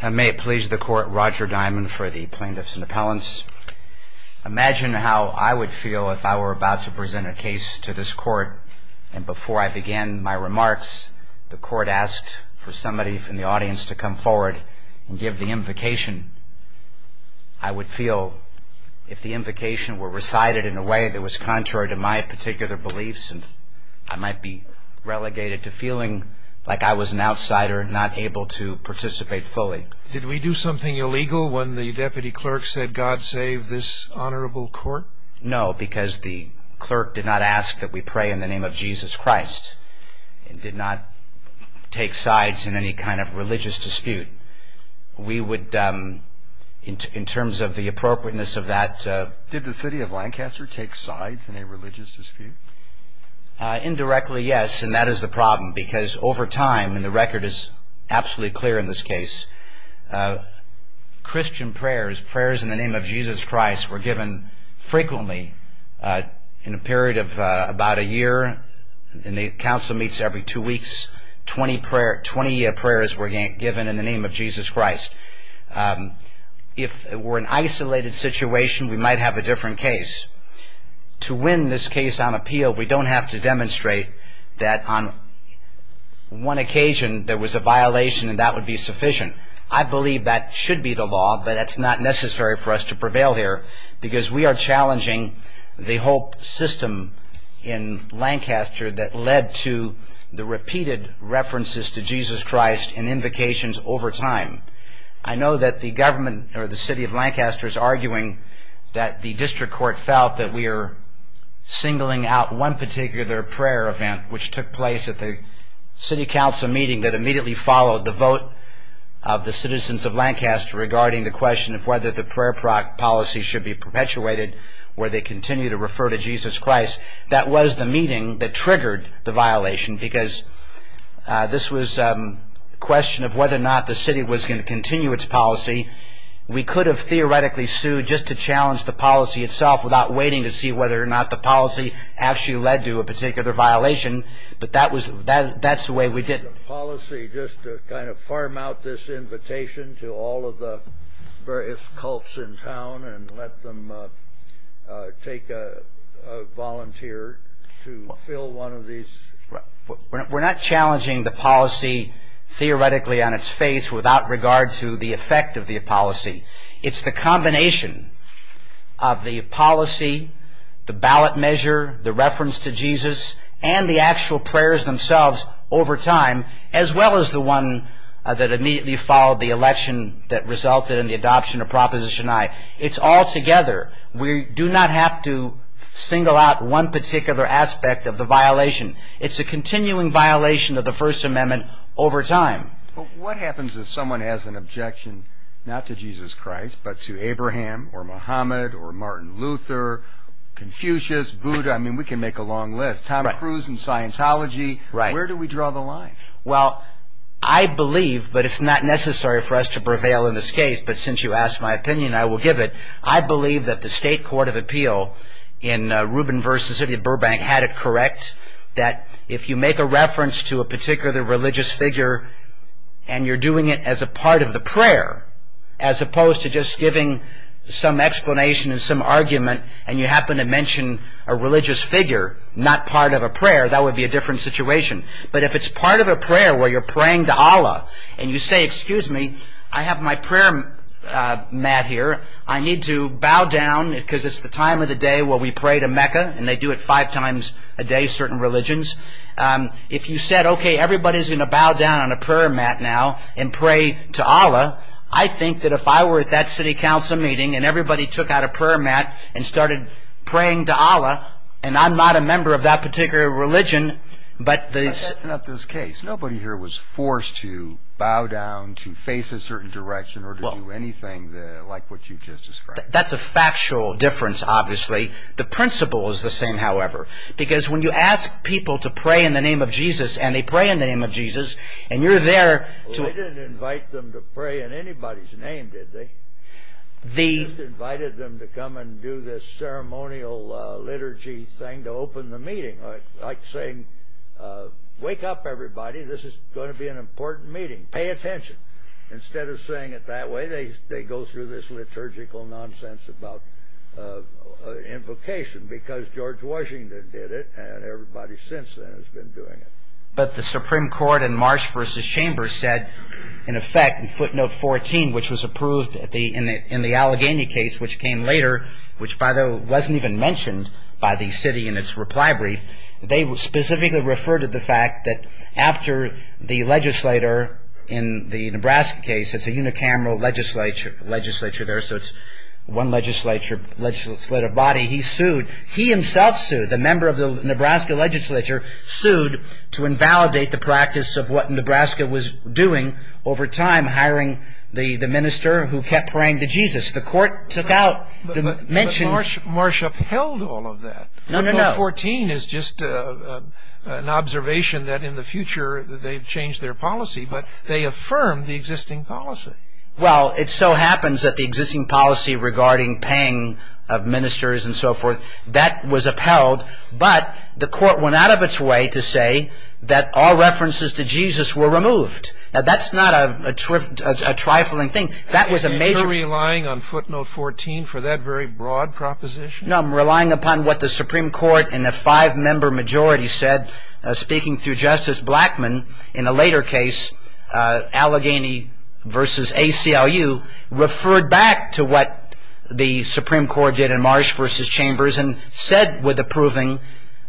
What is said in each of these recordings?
I may please the court, Roger Diamond for the Plaintiffs and Appellants. Imagine how I would feel if I were about to present a case to this court and before I began my remarks the court asked for somebody from the audience to come forward and give the invocation. I would feel if the invocation were recited in a way that was contrary to my particular beliefs I might be relegated to feeling like I was an outsider not able to participate fully. Did we do something illegal when the deputy clerk said God save this honorable court? No, because the clerk did not ask that we pray in the name of Jesus Christ and did not take sides in any kind of religious dispute. We would, in terms of the appropriateness of that... Did the City of Lancaster take sides in a religious dispute? Indirectly, yes, and that is the problem because over time and the record is absolutely clear in this case Christian prayers, prayers in the name of Jesus Christ were given frequently in a period of about a year and the council meets every two weeks twenty prayers were given in the name of Jesus Christ. If we're in an isolated situation we might have a different case. To win this case on appeal we don't have to demonstrate that on one occasion there was a violation and that would be sufficient. I believe that should be the law but that's not necessary for us to prevail here because we are challenging the whole system in Lancaster that led to the repeated references to Jesus Christ and invocations over time. I know that the government or the City of Lancaster is arguing that the district court felt that we are singling out one particular prayer event which took place at the City Council meeting that immediately followed the vote of the citizens of Lancaster regarding the question of whether the prayer policy should be perpetuated where they continue to refer to Jesus Christ. That was the meeting that triggered the violation because this was a question of whether or not the city was going to continue its policy. We could have theoretically sued just to challenge the policy itself without waiting to see whether or not the policy actually led to a particular violation but that's the way we did it. The policy just to kind of farm out this invitation to all of the various cults in town and let them take a volunteer to fill one of these... We're not challenging the policy theoretically on its face without regard to the effect of the policy. It's the combination of the policy, the ballot measure, the reference to Jesus and the actual prayers themselves over time as well as the one that immediately followed the election that resulted in the adoption of Proposition I. It's all together. We do not have to single out one particular aspect of the violation. It's a continuing violation of the First Amendment over time. What happens if someone has an objection not to Jesus Christ but to Abraham or Muhammad or Martin Luther, Confucius, Buddha, I mean we can make a long list. Tom Cruise in Scientology. Where do we draw the line? Well, I believe, but it's not necessary for us to prevail in this case, but since you asked my opinion I will give it. I believe that the State Court of Appeal in Rubin v. City of Burbank had it correct that if you make a reference to a particular religious figure and you're doing it as a part of the prayer as opposed to just giving some explanation and some argument and you happen to mention a religious figure not part of a prayer, that would be a different situation. But if it's part of a prayer where you're praying to Allah and you say, excuse me, I have my prayer mat here. I need to bow down because it's the time of the day where we pray to Mecca and they do it five times a day, certain religions. If you said, okay, everybody's going to bow down on a prayer mat now and pray to Allah, I think that if I were at that city council meeting and everybody took out a prayer mat and started praying to Allah and I'm not a member of that particular religion, but the... That's not this case. Nobody here was forced to bow down, to face a certain direction, or to do anything like what you just described. That's a factual difference, obviously. The principle is the same, however, because when you ask people to pray in the name of Jesus and they pray in the name of Jesus and you're there to... They didn't pray in anybody's name, did they? Jesus invited them to come and do this ceremonial liturgy thing to open the meeting. Like saying, wake up everybody. This is going to be an important meeting. Pay attention. Instead of saying it that way, they go through this liturgical nonsense about invocation because George Washington did it and everybody since then has been doing it. But the Supreme Court in Marsh v. Chambers said, in effect, in footnote 14, which was approved in the Allegheny case, which came later, which, by the way, wasn't even mentioned by the city in its reply brief, they specifically referred to the fact that after the legislator in the Nebraska case, it's a unicameral legislature there, so it's one legislator body, he sued, he himself sued, the member of the Nebraska legislature sued to invalidate the practice of what Nebraska was doing over time, hiring the minister who kept praying to Jesus. The court took out the mention... But Marsh upheld all of that. No, no, no. Footnote 14 is just an observation that in the future they've changed their policy, but they affirmed the existing policy. Well, it so happens that the existing policy regarding paying of ministers and so forth, that was upheld, but the court went out of its way to say that all references to Jesus were removed. Now, that's not a trifling thing. You're relying on footnote 14 for that very broad proposition? No, I'm relying upon what the Supreme Court in a five-member majority said, speaking through Justice Blackmun in a later case, Allegheny v. ACLU, referred back to what the Supreme Court did in Marsh v. Chambers and said with approving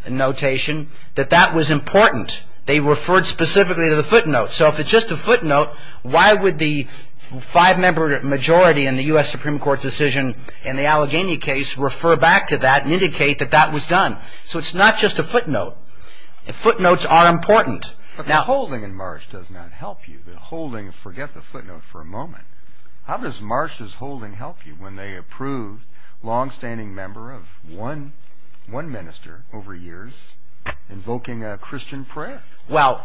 notation that that was important. They referred specifically to the footnote. So if it's just a footnote, why would the five-member majority in the U.S. Supreme Court's decision in the Allegheny case refer back to that and indicate that that was done? So it's not just a footnote. Footnotes are important. But the holding in Marsh does not help you. The holding, forget the footnote for a moment. How does Marsh's holding help you when they approve long-standing member of one minister over years invoking a Christian prayer? Well,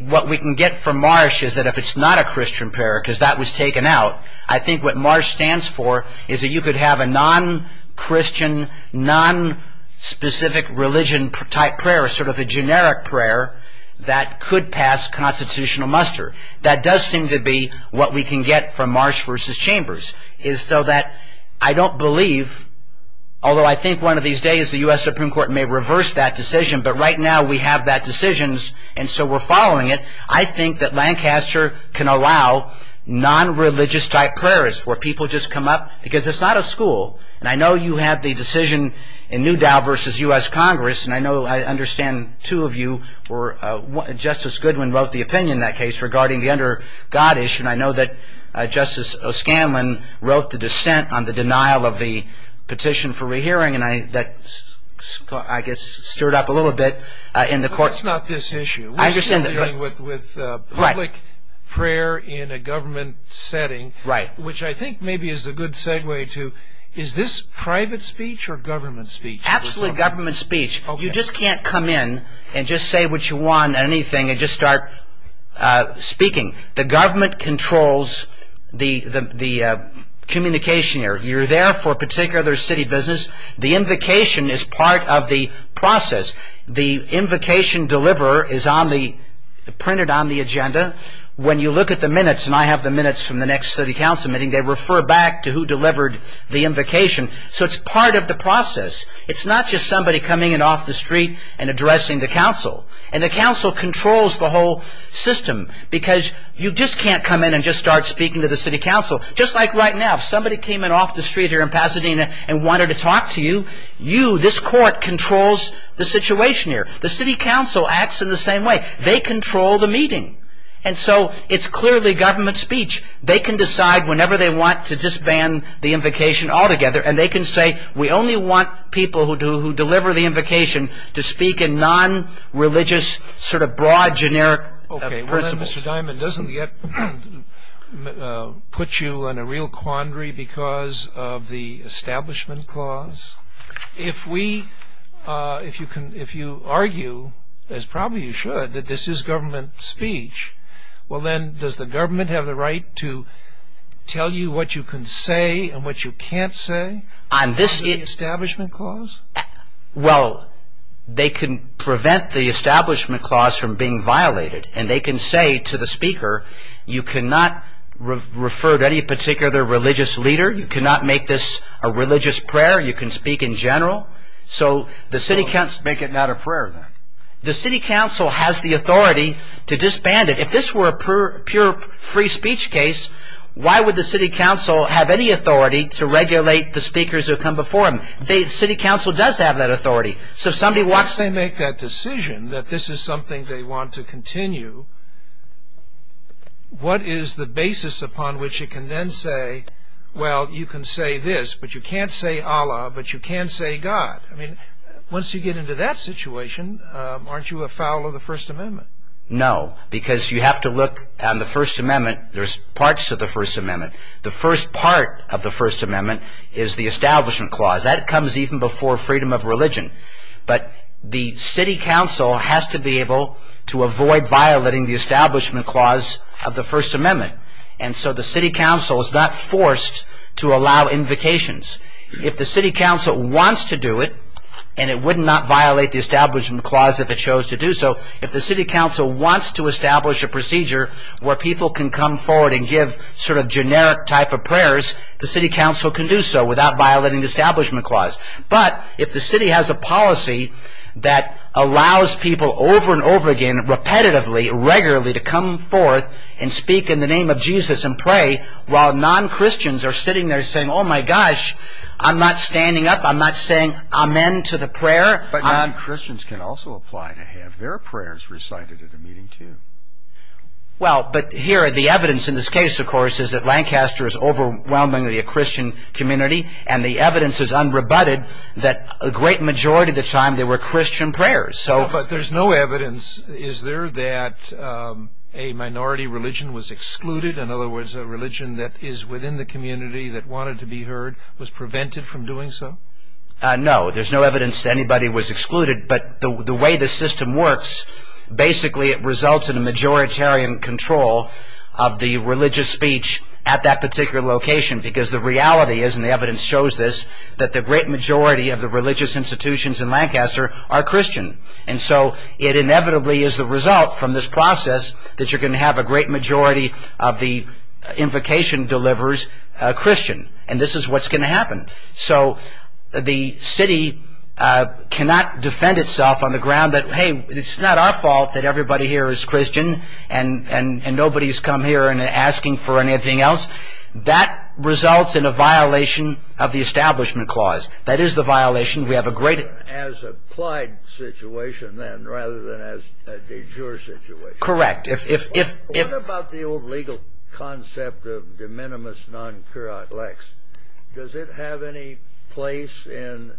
what we can get from Marsh is that if it's not a Christian prayer because that was taken out, I think what Marsh stands for is that you could have a non-Christian, non-specific religion type prayer, sort of a generic prayer that could pass constitutional muster. That does seem to be what we can get from Marsh v. Chambers. I don't believe, although I think one of these days the U.S. Supreme Court may reverse that decision, but right now we have that decision and so we're following it. I think that Lancaster can allow non-religious type prayers where people just come up because it's not a school. And I know you had the decision in Newdow v. U.S. Congress, and I know I understand two of you were, Justice Goodwin wrote the opinion in that case regarding the under God issue, and I know that Justice O'Scanlan wrote the dissent on the denial of the petition for rehearing, and that I guess stirred up a little bit in the court. It's not this issue. We're still dealing with public prayer in a government setting, which I think maybe is a good segue to, is this private speech or government speech? Absolutely government speech. You just can't come in and just say what you want and anything and just start speaking. The government controls the communication here. You're there for a particular city business. The invocation is part of the process. The invocation deliverer is printed on the agenda. When you look at the minutes, and I have the minutes from the next city council meeting, they refer back to who delivered the invocation. So it's part of the process. It's not just somebody coming in off the street and addressing the council. And the council controls the whole system because you just can't come in and just start speaking to the city council. Just like right now, if somebody came in off the street here in Pasadena and wanted to talk to you, you, this court, controls the situation here. The city council acts in the same way. They control the meeting. And so it's clearly government speech. They can decide whenever they want to disband the invocation altogether, and they can say we only want people who deliver the invocation to speak in nonreligious sort of broad, generic principles. Mr. Diamond, doesn't that put you in a real quandary because of the establishment clause? If you argue, as probably you should, that this is government speech, well then, does the government have the right to tell you what you can say and what you can't say under the establishment clause? Well, they can prevent the establishment clause from being violated, and they can say to the speaker, you cannot refer to any particular religious leader. You cannot make this a religious prayer. You can speak in general. So the city council... Make it not a prayer, then. The city council has the authority to disband it. If this were a pure free speech case, why would the city council have any authority to regulate the speakers who come before them? The city council does have that authority. So if somebody wants to make that decision that this is something they want to continue, what is the basis upon which it can then say, well, you can say this, but you can't say Allah, but you can't say God? I mean, once you get into that situation, aren't you afoul of the First Amendment? No, because you have to look on the First Amendment. There's parts of the First Amendment. The first part of the First Amendment is the establishment clause. That comes even before freedom of religion. But the city council has to be able to avoid violating the establishment clause of the First Amendment. And so the city council is not forced to allow invocations. If the city council wants to do it, and it would not violate the establishment clause if it chose to do so, if the city council wants to establish a procedure where people can come forward and give sort of generic type of prayers, the city council can do so without violating the establishment clause. But if the city has a policy that allows people over and over again, repetitively, regularly, to come forth and speak in the name of Jesus and pray while non-Christians are sitting there saying, oh my gosh, I'm not standing up, I'm not saying amen to the prayer. But non-Christians can also apply to have their prayers recited at a meeting too. Well, but here the evidence in this case, of course, is that Lancaster is overwhelmingly a Christian community. And the evidence is unrebutted that a great majority of the time there were Christian prayers. But there's no evidence. Is there that a minority religion was excluded? In other words, a religion that is within the community that wanted to be heard was prevented from doing so? No, there's no evidence that anybody was excluded. But the way the system works, basically it results in a majoritarian control of the religious speech at that particular location. Because the reality is, and the evidence shows this, that the great majority of the religious institutions in Lancaster are Christian. And so it inevitably is the result from this process that you're going to have a great majority of the invocation delivers Christian. And this is what's going to happen. So the city cannot defend itself on the ground that, hey, it's not our fault that everybody here is Christian. And nobody's come here and asking for anything else. That results in a violation of the Establishment Clause. That is the violation. We have a great... As applied situation then, rather than as a de jure situation. Correct. What about the old legal concept of de minimis non curat lex? Does it have any place in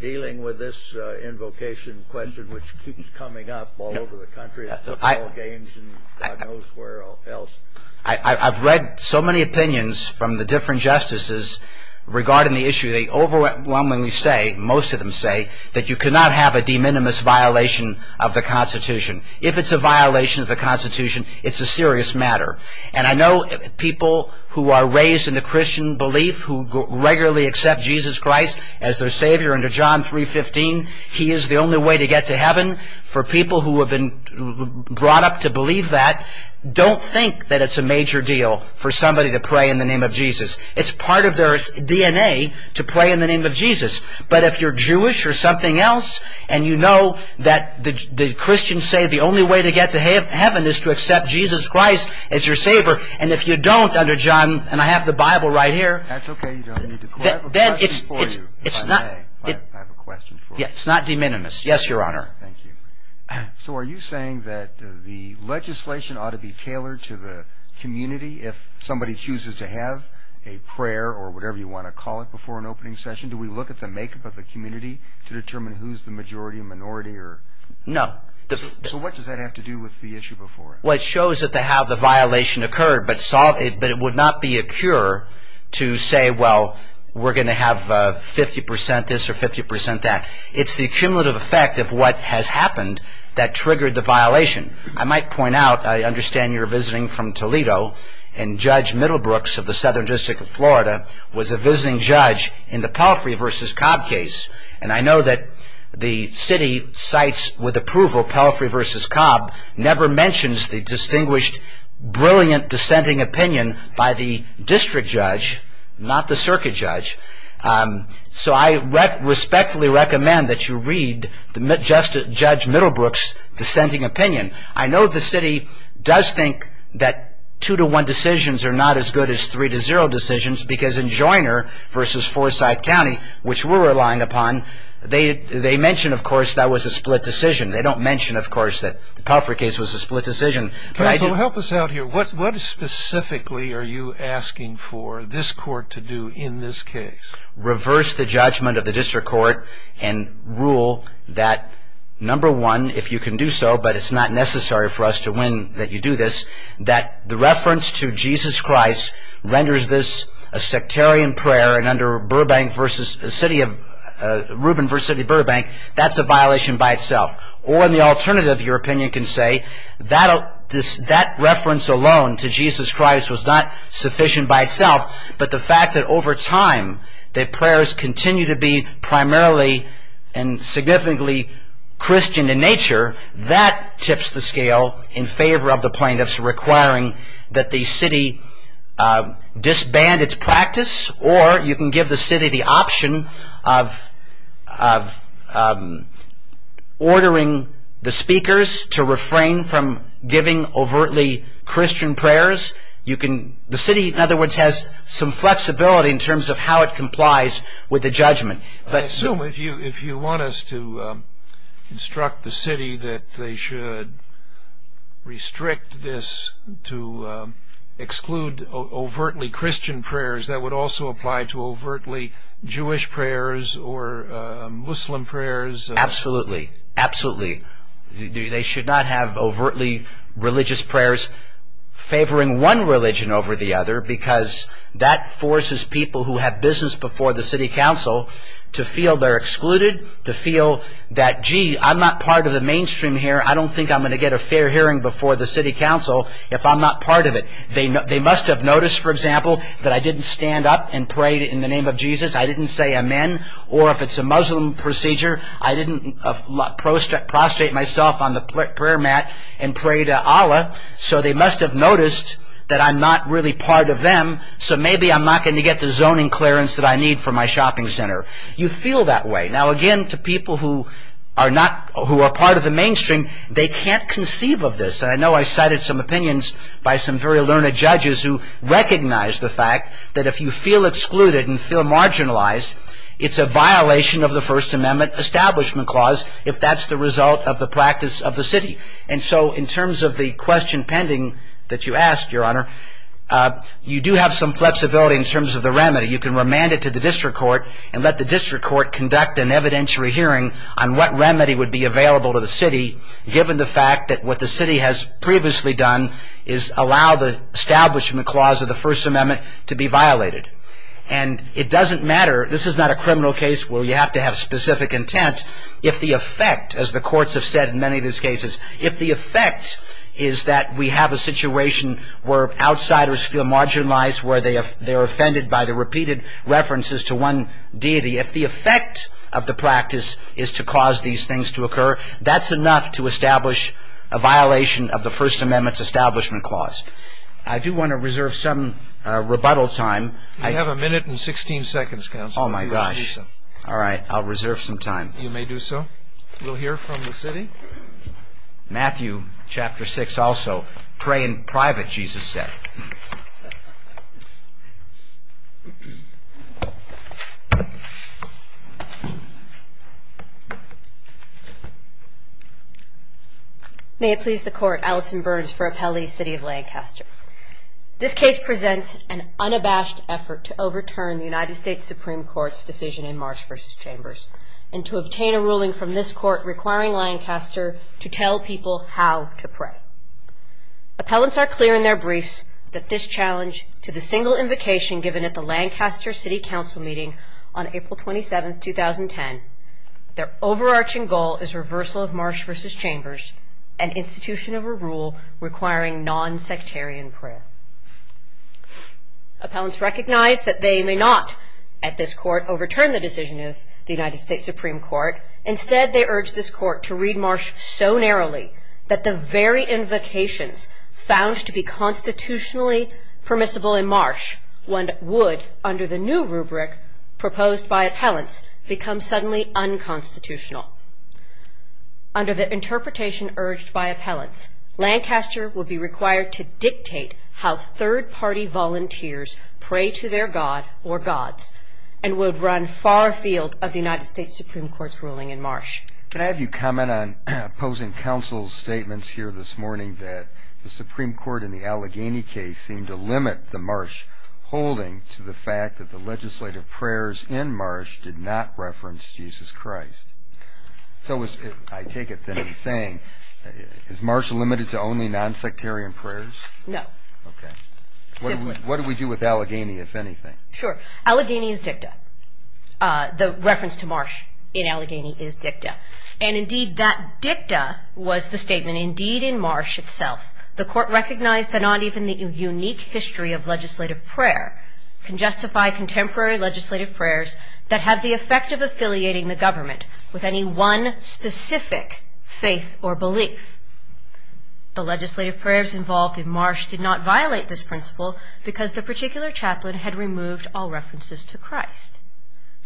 dealing with this invocation question which keeps coming up all over the country at football games and God knows where else? I've read so many opinions from the different justices regarding the issue. They overwhelmingly say, most of them say, that you cannot have a de minimis violation of the Constitution. If it's a violation of the Constitution, it's a serious matter. And I know people who are raised in the Christian belief, who regularly accept Jesus Christ as their Savior under John 3.15. He is the only way to get to heaven. For people who have been brought up to believe that, don't think that it's a major deal for somebody to pray in the name of Jesus. It's part of their DNA to pray in the name of Jesus. But if you're Jewish or something else, and you know that the Christians say the only way to get to heaven is to accept Jesus Christ as your Savior. And if you don't under John, and I have the Bible right here. That's okay. I have a question for you, if I may. It's not de minimis. Yes, Your Honor. Thank you. So are you saying that the legislation ought to be tailored to the community if somebody chooses to have a prayer or whatever you want to call it before an opening session? Do we look at the makeup of the community to determine who's the majority or minority? No. So what does that have to do with the issue before? Well, it shows how the violation occurred, but it would not be a cure to say, well, we're going to have 50% this or 50% that. It's the cumulative effect of what has happened that triggered the violation. I might point out, I understand you're visiting from Toledo, and Judge Middlebrooks of the Southern District of Florida was a visiting judge in the Palfrey v. Cobb case. And I know that the city cites with approval Palfrey v. Cobb never mentions the distinguished, brilliant dissenting opinion by the district judge, not the circuit judge. So I respectfully recommend that you read Judge Middlebrooks' dissenting opinion. I know the city does think that two-to-one decisions are not as good as three-to-zero decisions because in Joyner v. Forsyth County, which we're relying upon, they mention, of course, that was a split decision. They don't mention, of course, that the Palfrey case was a split decision. Counsel, help us out here. What specifically are you asking for this court to do in this case? Reverse the judgment of the district court and rule that, number one, if you can do so, but it's not necessary for us to win that you do this, that the reference to Jesus Christ renders this a sectarian prayer, and under Rubin v. City of Burbank, that's a violation by itself. Or, in the alternative, your opinion can say that reference alone to Jesus Christ was not sufficient by itself, but the fact that over time the prayers continue to be primarily and significantly Christian in nature, that tips the scale in favor of the plaintiffs requiring that the city disband its practice, or you can give the city the option of ordering the speakers to refrain from giving overtly Christian prayers. The city, in other words, has some flexibility in terms of how it complies with the judgment. I assume if you want us to instruct the city that they should restrict this to exclude overtly Christian prayers, that would also apply to overtly Jewish prayers or Muslim prayers? Absolutely. Absolutely. They should not have overtly religious prayers favoring one religion over the other, because that forces people who have business before the city council to feel they're excluded, to feel that, gee, I'm not part of the mainstream here, I don't think I'm going to get a fair hearing before the city council if I'm not part of it. They must have noticed, for example, that I didn't stand up and pray in the name of Jesus, I didn't say amen, or if it's a Muslim procedure, I didn't prostrate myself on the prayer mat and pray to Allah, so they must have noticed that I'm not really part of them, so maybe I'm not going to get the zoning clearance that I need for my shopping center. You feel that way. Now, again, to people who are part of the mainstream, they can't conceive of this, and I know I cited some opinions by some very learned judges who recognize the fact that if you feel excluded and feel marginalized, it's a violation of the First Amendment Establishment Clause if that's the result of the practice of the city. And so in terms of the question pending that you asked, Your Honor, you do have some flexibility in terms of the remedy. You can remand it to the district court and let the district court conduct an evidentiary hearing on what remedy would be available to the city given the fact that what the city has previously done is allow the Establishment Clause of the First Amendment to be violated. And it doesn't matter, this is not a criminal case where you have to have specific intent, if the effect, as the courts have said in many of these cases, if the effect is that we have a situation where outsiders feel marginalized, where they are offended by the repeated references to one deity, if the effect of the practice is to cause these things to occur, that's enough to establish a violation of the First Amendment Establishment Clause. I do want to reserve some rebuttal time. You have a minute and 16 seconds, Counselor. Oh, my gosh. All right, I'll reserve some time. You may do so. We'll hear from the city. Matthew, Chapter 6, also, pray in private, Jesus said. May it please the Court, Alison Burns for Appellee, City of Lancaster. This case presents an unabashed effort to overturn the United States Supreme Court's decision in Marsh v. Chambers and to obtain a ruling from this Court requiring Lancaster to tell people how to pray. Appellants are clear in their briefs that this challenge, to the single invocation given at the Lancaster City Council meeting on April 27, 2010, their overarching goal is reversal of Marsh v. Chambers, an institution of a rule requiring non-sectarian prayer. Appellants recognize that they may not, at this Court, overturn the decision of the United States Supreme Court. Instead, they urge this Court to read Marsh so narrowly that the very invocations found to be constitutionally permissible in Marsh would, under the new rubric proposed by appellants, become suddenly unconstitutional. Under the interpretation urged by appellants, Lancaster would be required to dictate how third-party volunteers pray to their god or gods and would run far afield of the United States Supreme Court's ruling in Marsh. Can I have you comment on opposing counsel's statements here this morning that the Supreme Court in the Allegheny case seemed to limit the Marsh holding to the fact that the legislative prayers in Marsh did not reference Jesus Christ? So I take it that he's saying, is Marsh limited to only non-sectarian prayers? No. Okay. What do we do with Allegheny, if anything? Sure. Allegheny is dicta. The reference to Marsh in Allegheny is dicta. And, indeed, that dicta was the statement. Indeed, in Marsh itself, the Court recognized that not even the unique history of legislative prayer can justify contemporary legislative prayers that have the effect of affiliating the government with any one specific faith or belief. The legislative prayers involved in Marsh did not violate this principle because the particular chaplain had removed all references to Christ.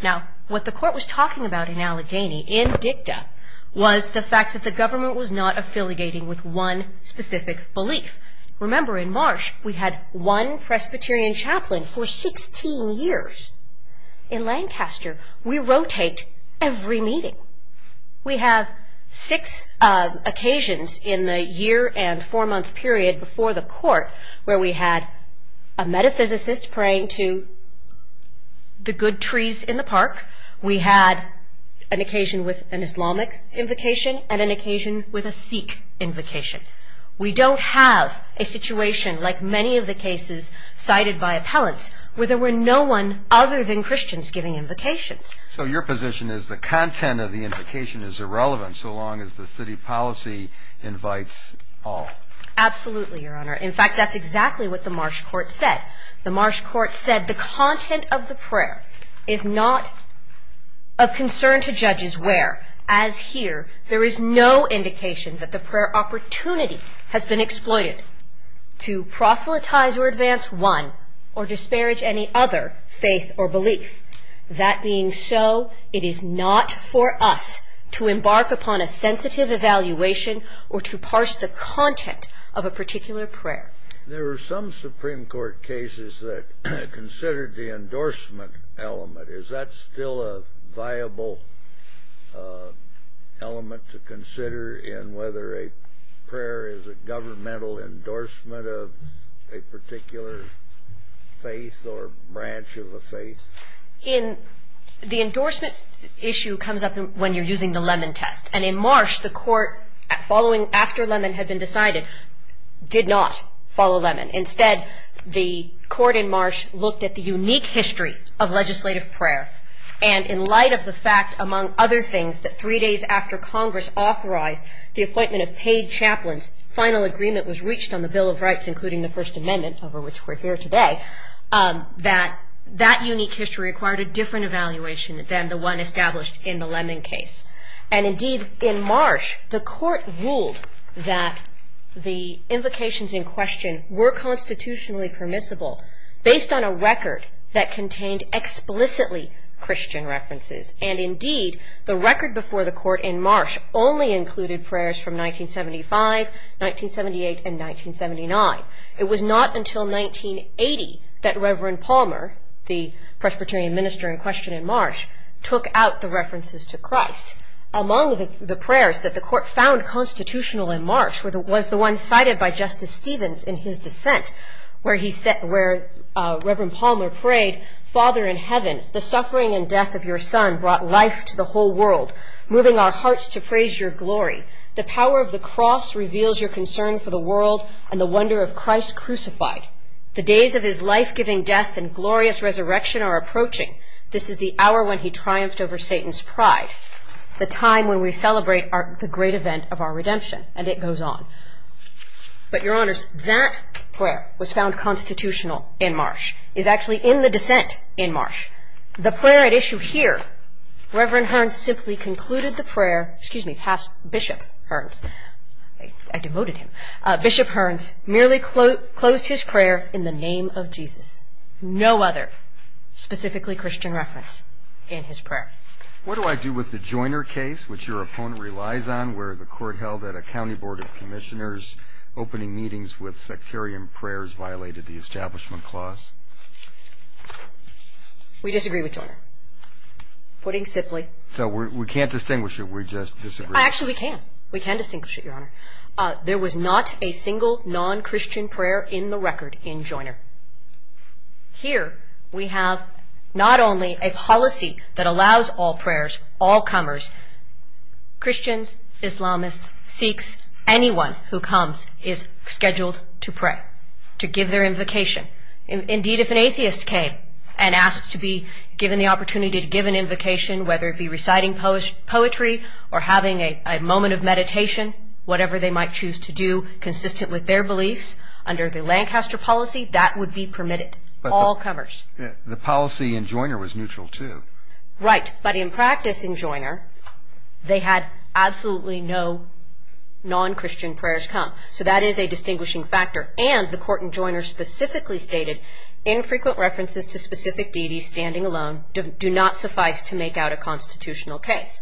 Now, what the Court was talking about in Allegheny, in dicta, was the fact that the government was not affiliating with one specific belief. Remember, in Marsh, we had one Presbyterian chaplain for 16 years. In Lancaster, we rotate every meeting. We have six occasions in the year and four-month period before the Court where we had a metaphysicist praying to the good trees in the park. We had an occasion with an Islamic invocation and an occasion with a Sikh invocation. We don't have a situation like many of the cases cited by appellants where there were no one other than Christians giving invocations. So your position is the content of the invocation is irrelevant so long as the city policy invites all. Absolutely, Your Honor. In fact, that's exactly what the Marsh Court said. The Marsh Court said the content of the prayer is not of concern to judges where, as here, there is no indication that the prayer opportunity has been exploited to proselytize or advance one or disparage any other faith or belief. That being so, it is not for us to embark upon a sensitive evaluation or to parse the content of a particular prayer. There were some Supreme Court cases that considered the endorsement element. Is that still a viable element to consider in whether a prayer is a governmental endorsement of a particular faith or branch of a faith? The endorsement issue comes up when you're using the Lemon Test. And in Marsh, the Court, following after Lemon had been decided, did not follow Lemon. Instead, the Court in Marsh looked at the unique history of legislative prayer. And in light of the fact, among other things, that three days after Congress authorized the appointment of paid chaplains, final agreement was reached on the Bill of Rights, including the First Amendment, over which we're here today, that that unique history required a different evaluation than the one established in the Lemon case. And indeed, in Marsh, the Court ruled that the invocations in question were constitutionally permissible based on a record that contained explicitly Christian references. And indeed, the record before the Court in Marsh only included prayers from 1975, 1978, and 1979. It was not until 1980 that Reverend Palmer, the Presbyterian minister in question in Marsh, took out the references to Christ. Among the prayers that the Court found constitutional in Marsh was the one cited by Justice Stevens in his dissent, where Reverend Palmer prayed, Father in heaven, the suffering and death of your son brought life to the whole world, moving our hearts to praise your glory. The power of the cross reveals your concern for the world and the wonder of Christ crucified. The days of his life-giving death and glorious resurrection are approaching. This is the hour when he triumphed over Satan's pride, the time when we celebrate the great event of our redemption. And it goes on. But, Your Honors, that prayer was found constitutional in Marsh, is actually in the dissent in Marsh. The prayer at issue here, Reverend Hearns simply concluded the prayer, excuse me, past Bishop Hearns, I devoted him, no other specifically Christian reference in his prayer. What do I do with the Joyner case, which your opponent relies on, where the Court held that a county board of commissioners opening meetings with sectarian prayers violated the establishment clause? We disagree with Joyner. Putting simply. So we can't distinguish it. We just disagree. Actually, we can. We can distinguish it, Your Honor. There was not a single non-Christian prayer in the record in Joyner. Here we have not only a policy that allows all prayers, all comers, Christians, Islamists, Sikhs, anyone who comes is scheduled to pray, to give their invocation. Indeed, if an atheist came and asked to be given the opportunity to give an invocation, whether it be reciting poetry or having a moment of meditation, whatever they might choose to do consistent with their beliefs under the Lancaster policy, that would be permitted, all comers. The policy in Joyner was neutral, too. Right. But in practice in Joyner, they had absolutely no non-Christian prayers come. So that is a distinguishing factor. And the Court in Joyner specifically stated, infrequent references to specific deities standing alone do not suffice to make out a constitutional case.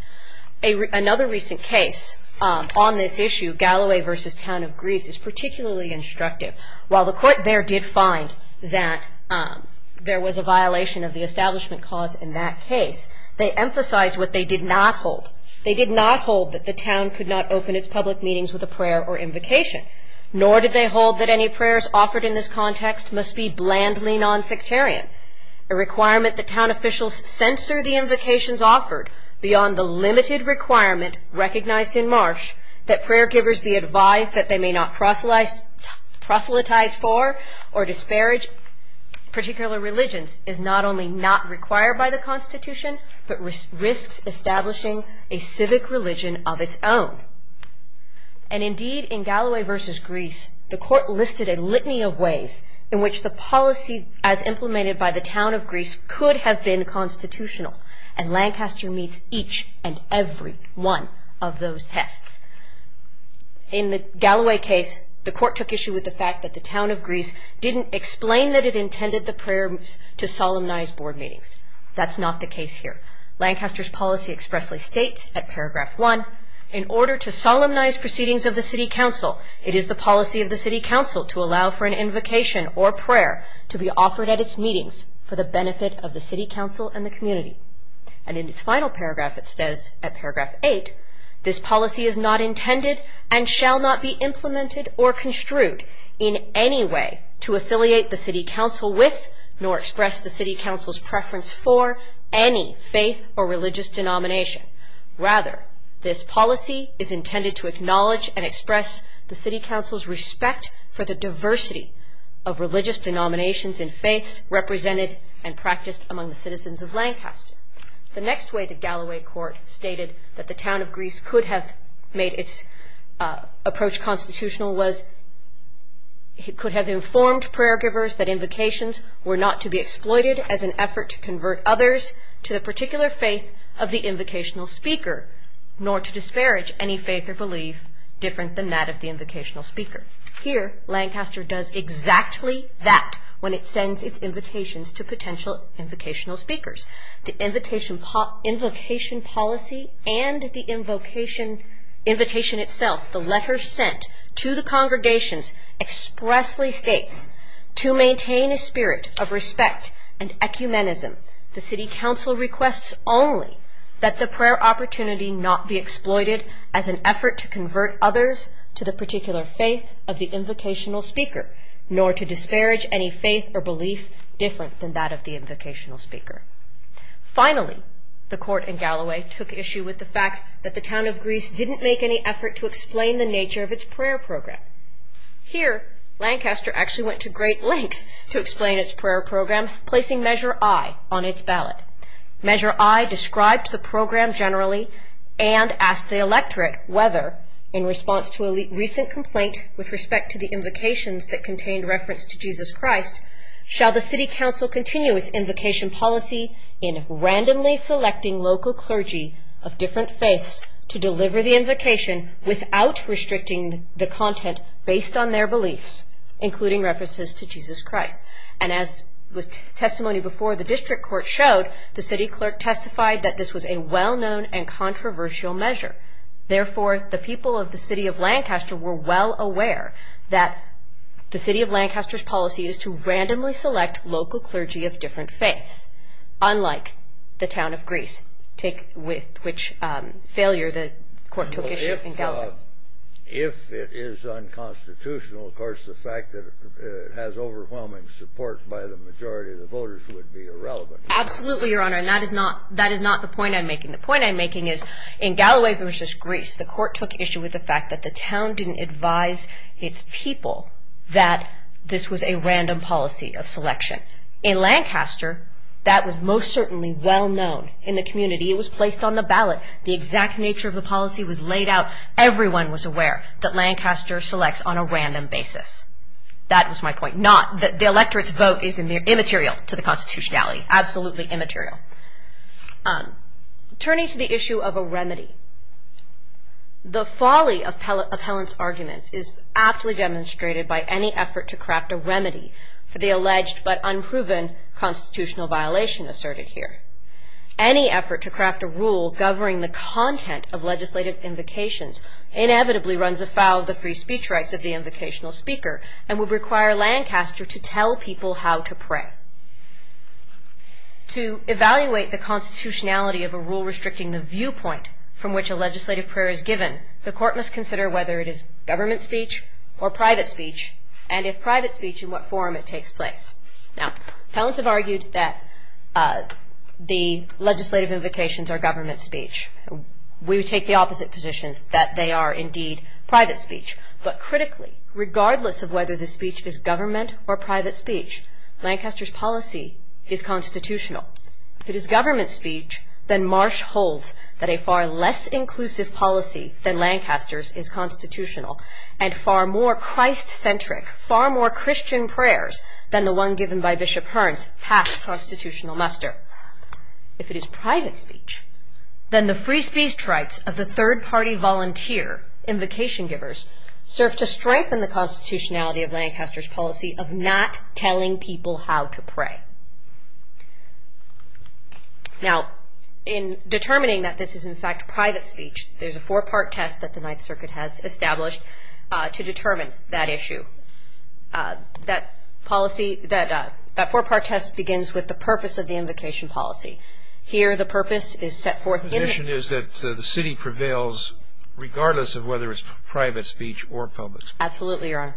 Another recent case on this issue, Galloway v. Town of Greece, is particularly instructive. While the Court there did find that there was a violation of the establishment cause in that case, they emphasized what they did not hold. They did not hold that the town could not open its public meetings with a prayer or invocation, nor did they hold that any prayers offered in this context must be blandly non-sectarian, a requirement that town officials censor the invocations offered beyond the limited requirement recognized in Marsh that prayer givers be advised that they may not proselytize for or disparage particular religions is not only not required by the Constitution, but risks establishing a civic religion of its own. And indeed, in Galloway v. Greece, the Court listed a litany of ways in which the policy as implemented by the Town of Greece could have been constitutional, and Lancaster meets each and every one of those tests. In the Galloway case, the Court took issue with the fact that the Town of Greece didn't explain that it intended the prayers to solemnize board meetings. That's not the case here. Lancaster's policy expressly states at paragraph 1, in order to solemnize proceedings of the City Council, it is the policy of the City Council to allow for an invocation or prayer to be offered at its meetings for the benefit of the City Council and the community. And in its final paragraph, it says at paragraph 8, this policy is not intended and shall not be implemented or construed in any way to affiliate the City Council with nor express the City Council's preference for any faith or religious denomination. Rather, this policy is intended to acknowledge and express the City Council's respect for the diversity of religious denominations and faiths represented and practiced among the citizens of Lancaster. The next way the Galloway Court stated that the Town of Greece could have made its approach constitutional was it could have informed prayer givers that invocations were not to be exploited as an effort to convert others to the particular faith of the invocational speaker, nor to disparage any faith or belief different than that of the invocational speaker. Here, Lancaster does exactly that when it sends its invitations to potential invocational speakers. The invocation policy and the invocation itself, the letter sent to the congregations, expressly states, to maintain a spirit of respect and ecumenism, the City Council requests only that the prayer opportunity not be exploited as an effort to convert others to the particular faith of the invocational speaker, nor to disparage any faith or belief different than that of the invocational speaker. Finally, the Court in Galloway took issue with the fact that the Town of Greece didn't make any effort to explain the nature of its prayer program. Here, Lancaster actually went to great lengths to explain its prayer program, placing Measure I on its ballot. Measure I described the program generally and asked the electorate whether, in response to a recent complaint with respect to the invocations that contained reference to Jesus Christ, shall the City Council continue its invocation policy in randomly selecting local clergy of different faiths to deliver the invocation without restricting the content based on their beliefs, including references to Jesus Christ. And as testimony before the District Court showed, the City Clerk testified that this was a well-known and controversial measure. Therefore, the people of the City of Lancaster were well aware that the City of Lancaster's policy is to randomly select local clergy of different faiths, unlike the Town of Greece, with which failure the Court took issue in Galloway. If it is unconstitutional, of course, the fact that it has overwhelming support by the majority of the voters would be irrelevant. Absolutely, Your Honor, and that is not the point I'm making. The point I'm making is, in Galloway v. Greece, the Court took issue with the fact that the town didn't advise its people that this was a random policy of selection. In Lancaster, that was most certainly well-known in the community. It was placed on the ballot. The exact nature of the policy was laid out. Everyone was aware that Lancaster selects on a random basis. That was my point. Not that the electorate's vote is immaterial to the constitutionality. Absolutely immaterial. Turning to the issue of a remedy, the folly of Appellant's arguments is aptly demonstrated by any effort to craft a remedy for the alleged but unproven constitutional violation asserted here. Any effort to craft a rule governing the content of legislative invocations inevitably runs afoul of the free speech rights of the invocational speaker and would require Lancaster to tell people how to pray. To evaluate the constitutionality of a rule restricting the viewpoint from which a legislative prayer is given, the Court must consider whether it is government speech or private speech and if private speech, in what form it takes place. Now, Appellants have argued that the legislative invocations are government speech. We would take the opposite position, that they are indeed private speech. But critically, regardless of whether the speech is government or private speech, Lancaster's policy is constitutional. If it is government speech, then Marsh holds that a far less inclusive policy than Lancaster's is constitutional and far more Christ-centric, far more Christian prayers than the one given by Bishop Hearn's past constitutional muster. If it is private speech, then the free speech rights of the third-party volunteer, invocation givers, serve to strengthen the constitutionality of Lancaster's policy of not telling people how to pray. Now, in determining that this is, in fact, private speech, there's a four-part test that the Ninth Circuit has established to determine that issue. That policy, that four-part test begins with the purpose of the invocation policy. Here, the purpose is set forth in the... The proposition is that the city prevails regardless of whether it's private speech or public speech. Absolutely, Your Honor.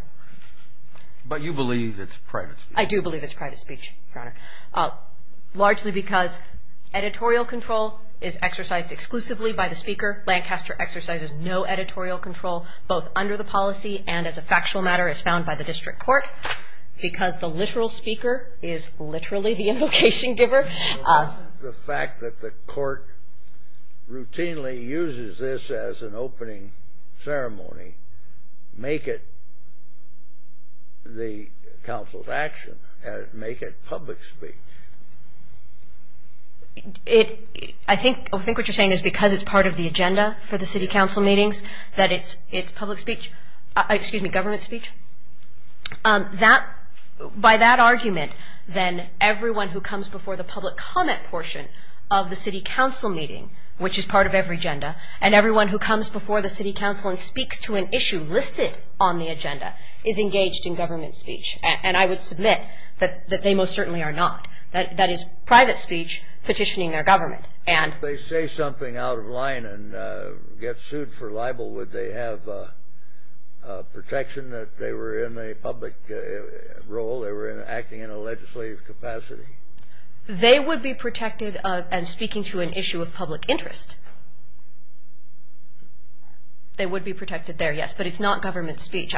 But you believe it's private speech? I do believe it's private speech, Your Honor, largely because editorial control is exercised exclusively by the speaker. Lancaster exercises no editorial control both under the policy and as a factual matter as found by the district court because the literal speaker is literally the invocation giver. The fact that the court routinely uses this as an opening ceremony make it the council's action and make it public speech. I think what you're saying is because it's part of the agenda for the city council meetings that it's public speech, excuse me, government speech. By that argument, then everyone who comes before the public comment portion of the city council meeting, which is part of every agenda, and everyone who comes before the city council and speaks to an issue listed on the agenda is engaged in government speech. And I would submit that they most certainly are not. That is private speech petitioning their government. If they say something out of line and get sued for libel, would they have protection that they were in a public role, they were acting in a legislative capacity? They would be protected and speaking to an issue of public interest. They would be protected there, yes. But it's not government speech.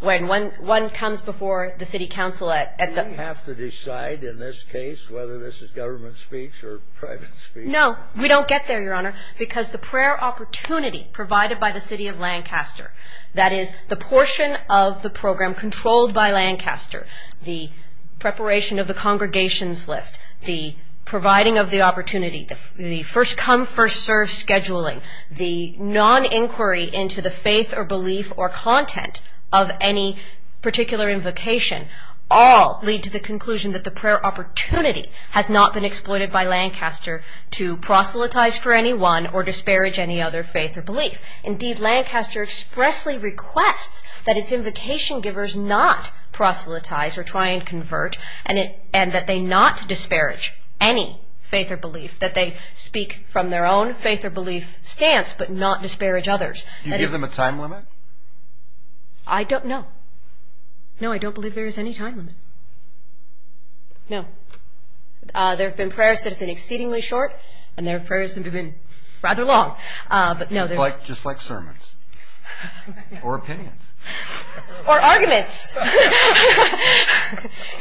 When one comes before the city council at the… Do we have to decide in this case whether this is government speech or private speech? No, we don't get there, Your Honor, because the prayer opportunity provided by the city of Lancaster, that is the portion of the program controlled by Lancaster, the preparation of the congregations list, the providing of the opportunity, the first come, first serve scheduling, the non-inquiry into the faith or belief or content of any particular invocation, all lead to the conclusion that the prayer opportunity has not been exploited by Lancaster to proselytize for anyone or disparage any other faith or belief. Indeed, Lancaster expressly requests that its invocation givers not proselytize or try and convert and that they not disparage any faith or belief, that they speak from their own faith or belief stance but not disparage others. Do you give them a time limit? I don't know. No, I don't believe there is any time limit. No. There have been prayers that have been exceedingly short and there have been prayers that have been rather long. Just like sermons or opinions. Or arguments.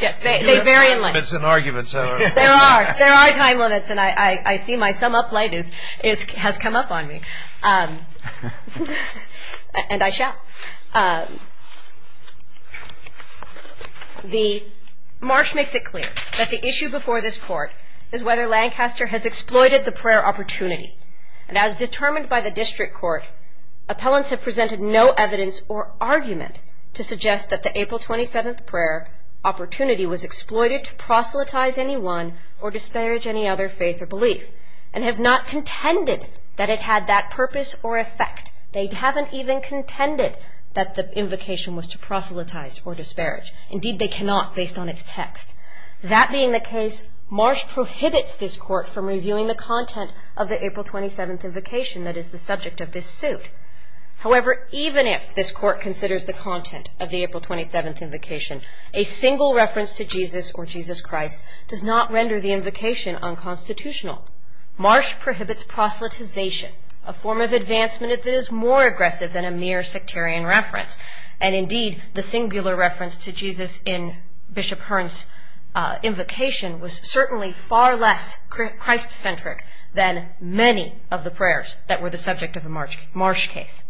Yes, they vary in length. There are time limits, and I see my sum-up light has come up on me, and I shall. The marsh makes it clear that the issue before this court is whether Lancaster has exploited the prayer opportunity. And as determined by the district court, appellants have presented no evidence or argument to suggest that the April 27th prayer opportunity was exploited to proselytize anyone or disparage any other faith or belief and have not contended that it had that purpose or effect. They haven't even contended that the invocation was to proselytize or disparage. Indeed, they cannot based on its text. That being the case, marsh prohibits this court from reviewing the content of the April 27th invocation that is the subject of this suit. However, even if this court considers the content of the April 27th invocation, a single reference to Jesus or Jesus Christ does not render the invocation unconstitutional. Marsh prohibits proselytization, a form of advancement that is more aggressive than a mere sectarian reference. And indeed, the singular reference to Jesus in Bishop Hearn's invocation was certainly far less Christ-centric than many of the prayers that were the subject of a marsh case.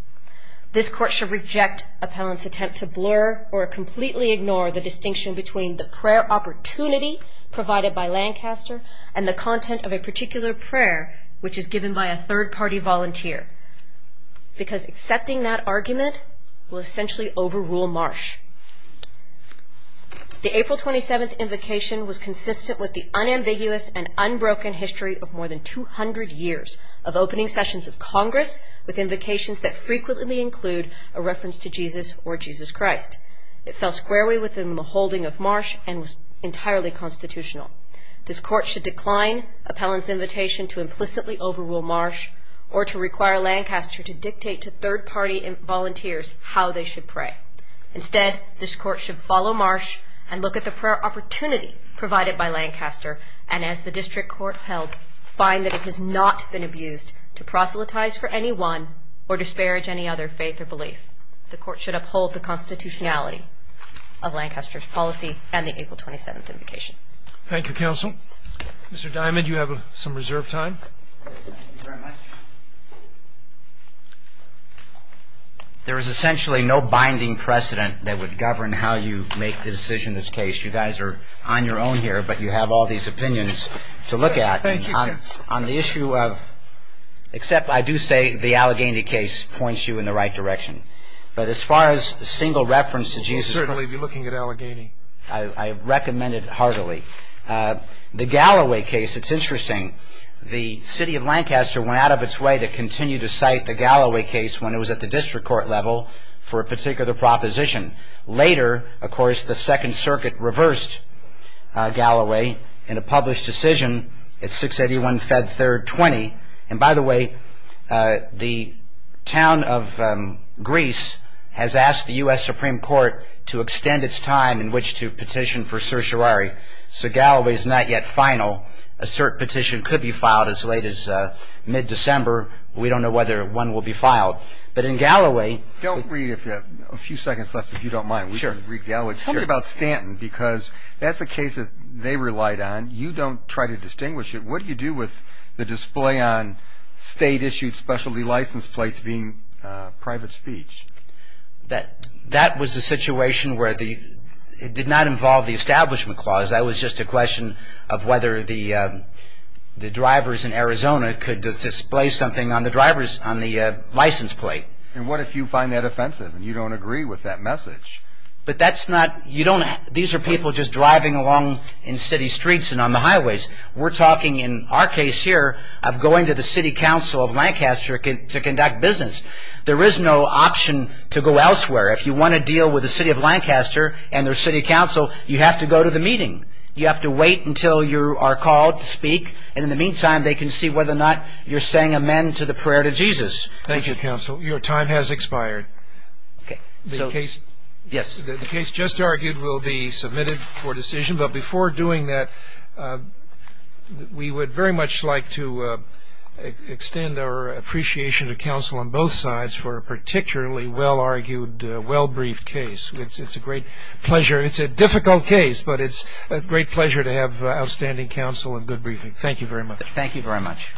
This court shall reject appellants' attempt to blur or completely ignore the distinction between the prayer opportunity provided by Lancaster and the content of a particular prayer which is given by a third-party volunteer because accepting that argument will essentially overrule marsh. The April 27th invocation was consistent with the unambiguous and unbroken history of more than 200 years of opening sessions of Congress with invocations that frequently include a reference to Jesus or Jesus Christ. It fell squarely within the holding of marsh and was entirely constitutional. This court should decline appellants' invitation to implicitly overrule marsh or to require Lancaster to dictate to third-party volunteers how they should pray. Instead, this court should follow marsh and look at the prayer opportunity provided by Lancaster and, as the district court held, find that it has not been abused to proselytize for anyone or disparage any other faith or belief. The court should uphold the constitutionality of Lancaster's policy and the April 27th invocation. Thank you, counsel. Mr. Diamond, you have some reserved time. Thank you very much. There is essentially no binding precedent that would govern how you make the decision in this case. You guys are on your own here, but you have all these opinions to look at. Thank you. On the issue of – except I do say the Allegheny case points you in the right direction. But as far as a single reference to Jesus Christ – I would certainly be looking at Allegheny. I recommend it heartily. The Galloway case, it's interesting. The city of Lancaster went out of its way to continue to cite the Galloway case when it was at the district court level for a particular proposition. Later, of course, the Second Circuit reversed Galloway in a published decision at 681 Fed 3rd 20. And by the way, the town of Greece has asked the U.S. Supreme Court to extend its time in which to petition for certiorari. So Galloway is not yet final. A cert petition could be filed as late as mid-December. We don't know whether one will be filed. But in Galloway – Don't read if you have a few seconds left, if you don't mind. We can read Galloway. Tell me about Stanton because that's a case that they relied on. You don't try to distinguish it. What do you do with the display on state-issued specialty license plates being private speech? That was a situation where it did not involve the Establishment Clause. That was just a question of whether the drivers in Arizona could display something on the license plate. And what if you find that offensive and you don't agree with that message? But that's not – These are people just driving along in city streets and on the highways. We're talking in our case here of going to the city council of Lancaster to conduct business. There is no option to go elsewhere. If you want to deal with the city of Lancaster and their city council, you have to go to the meeting. You have to wait until you are called to speak. And in the meantime, they can see whether or not you're saying amen to the prayer to Jesus. Thank you, counsel. Your time has expired. Okay. Yes. The case just argued will be submitted for decision. But before doing that, we would very much like to extend our appreciation to counsel on both sides for a particularly well-argued, well-briefed case. It's a great pleasure. It's a difficult case, but it's a great pleasure to have outstanding counsel and good briefing. Thank you very much. Thank you very much.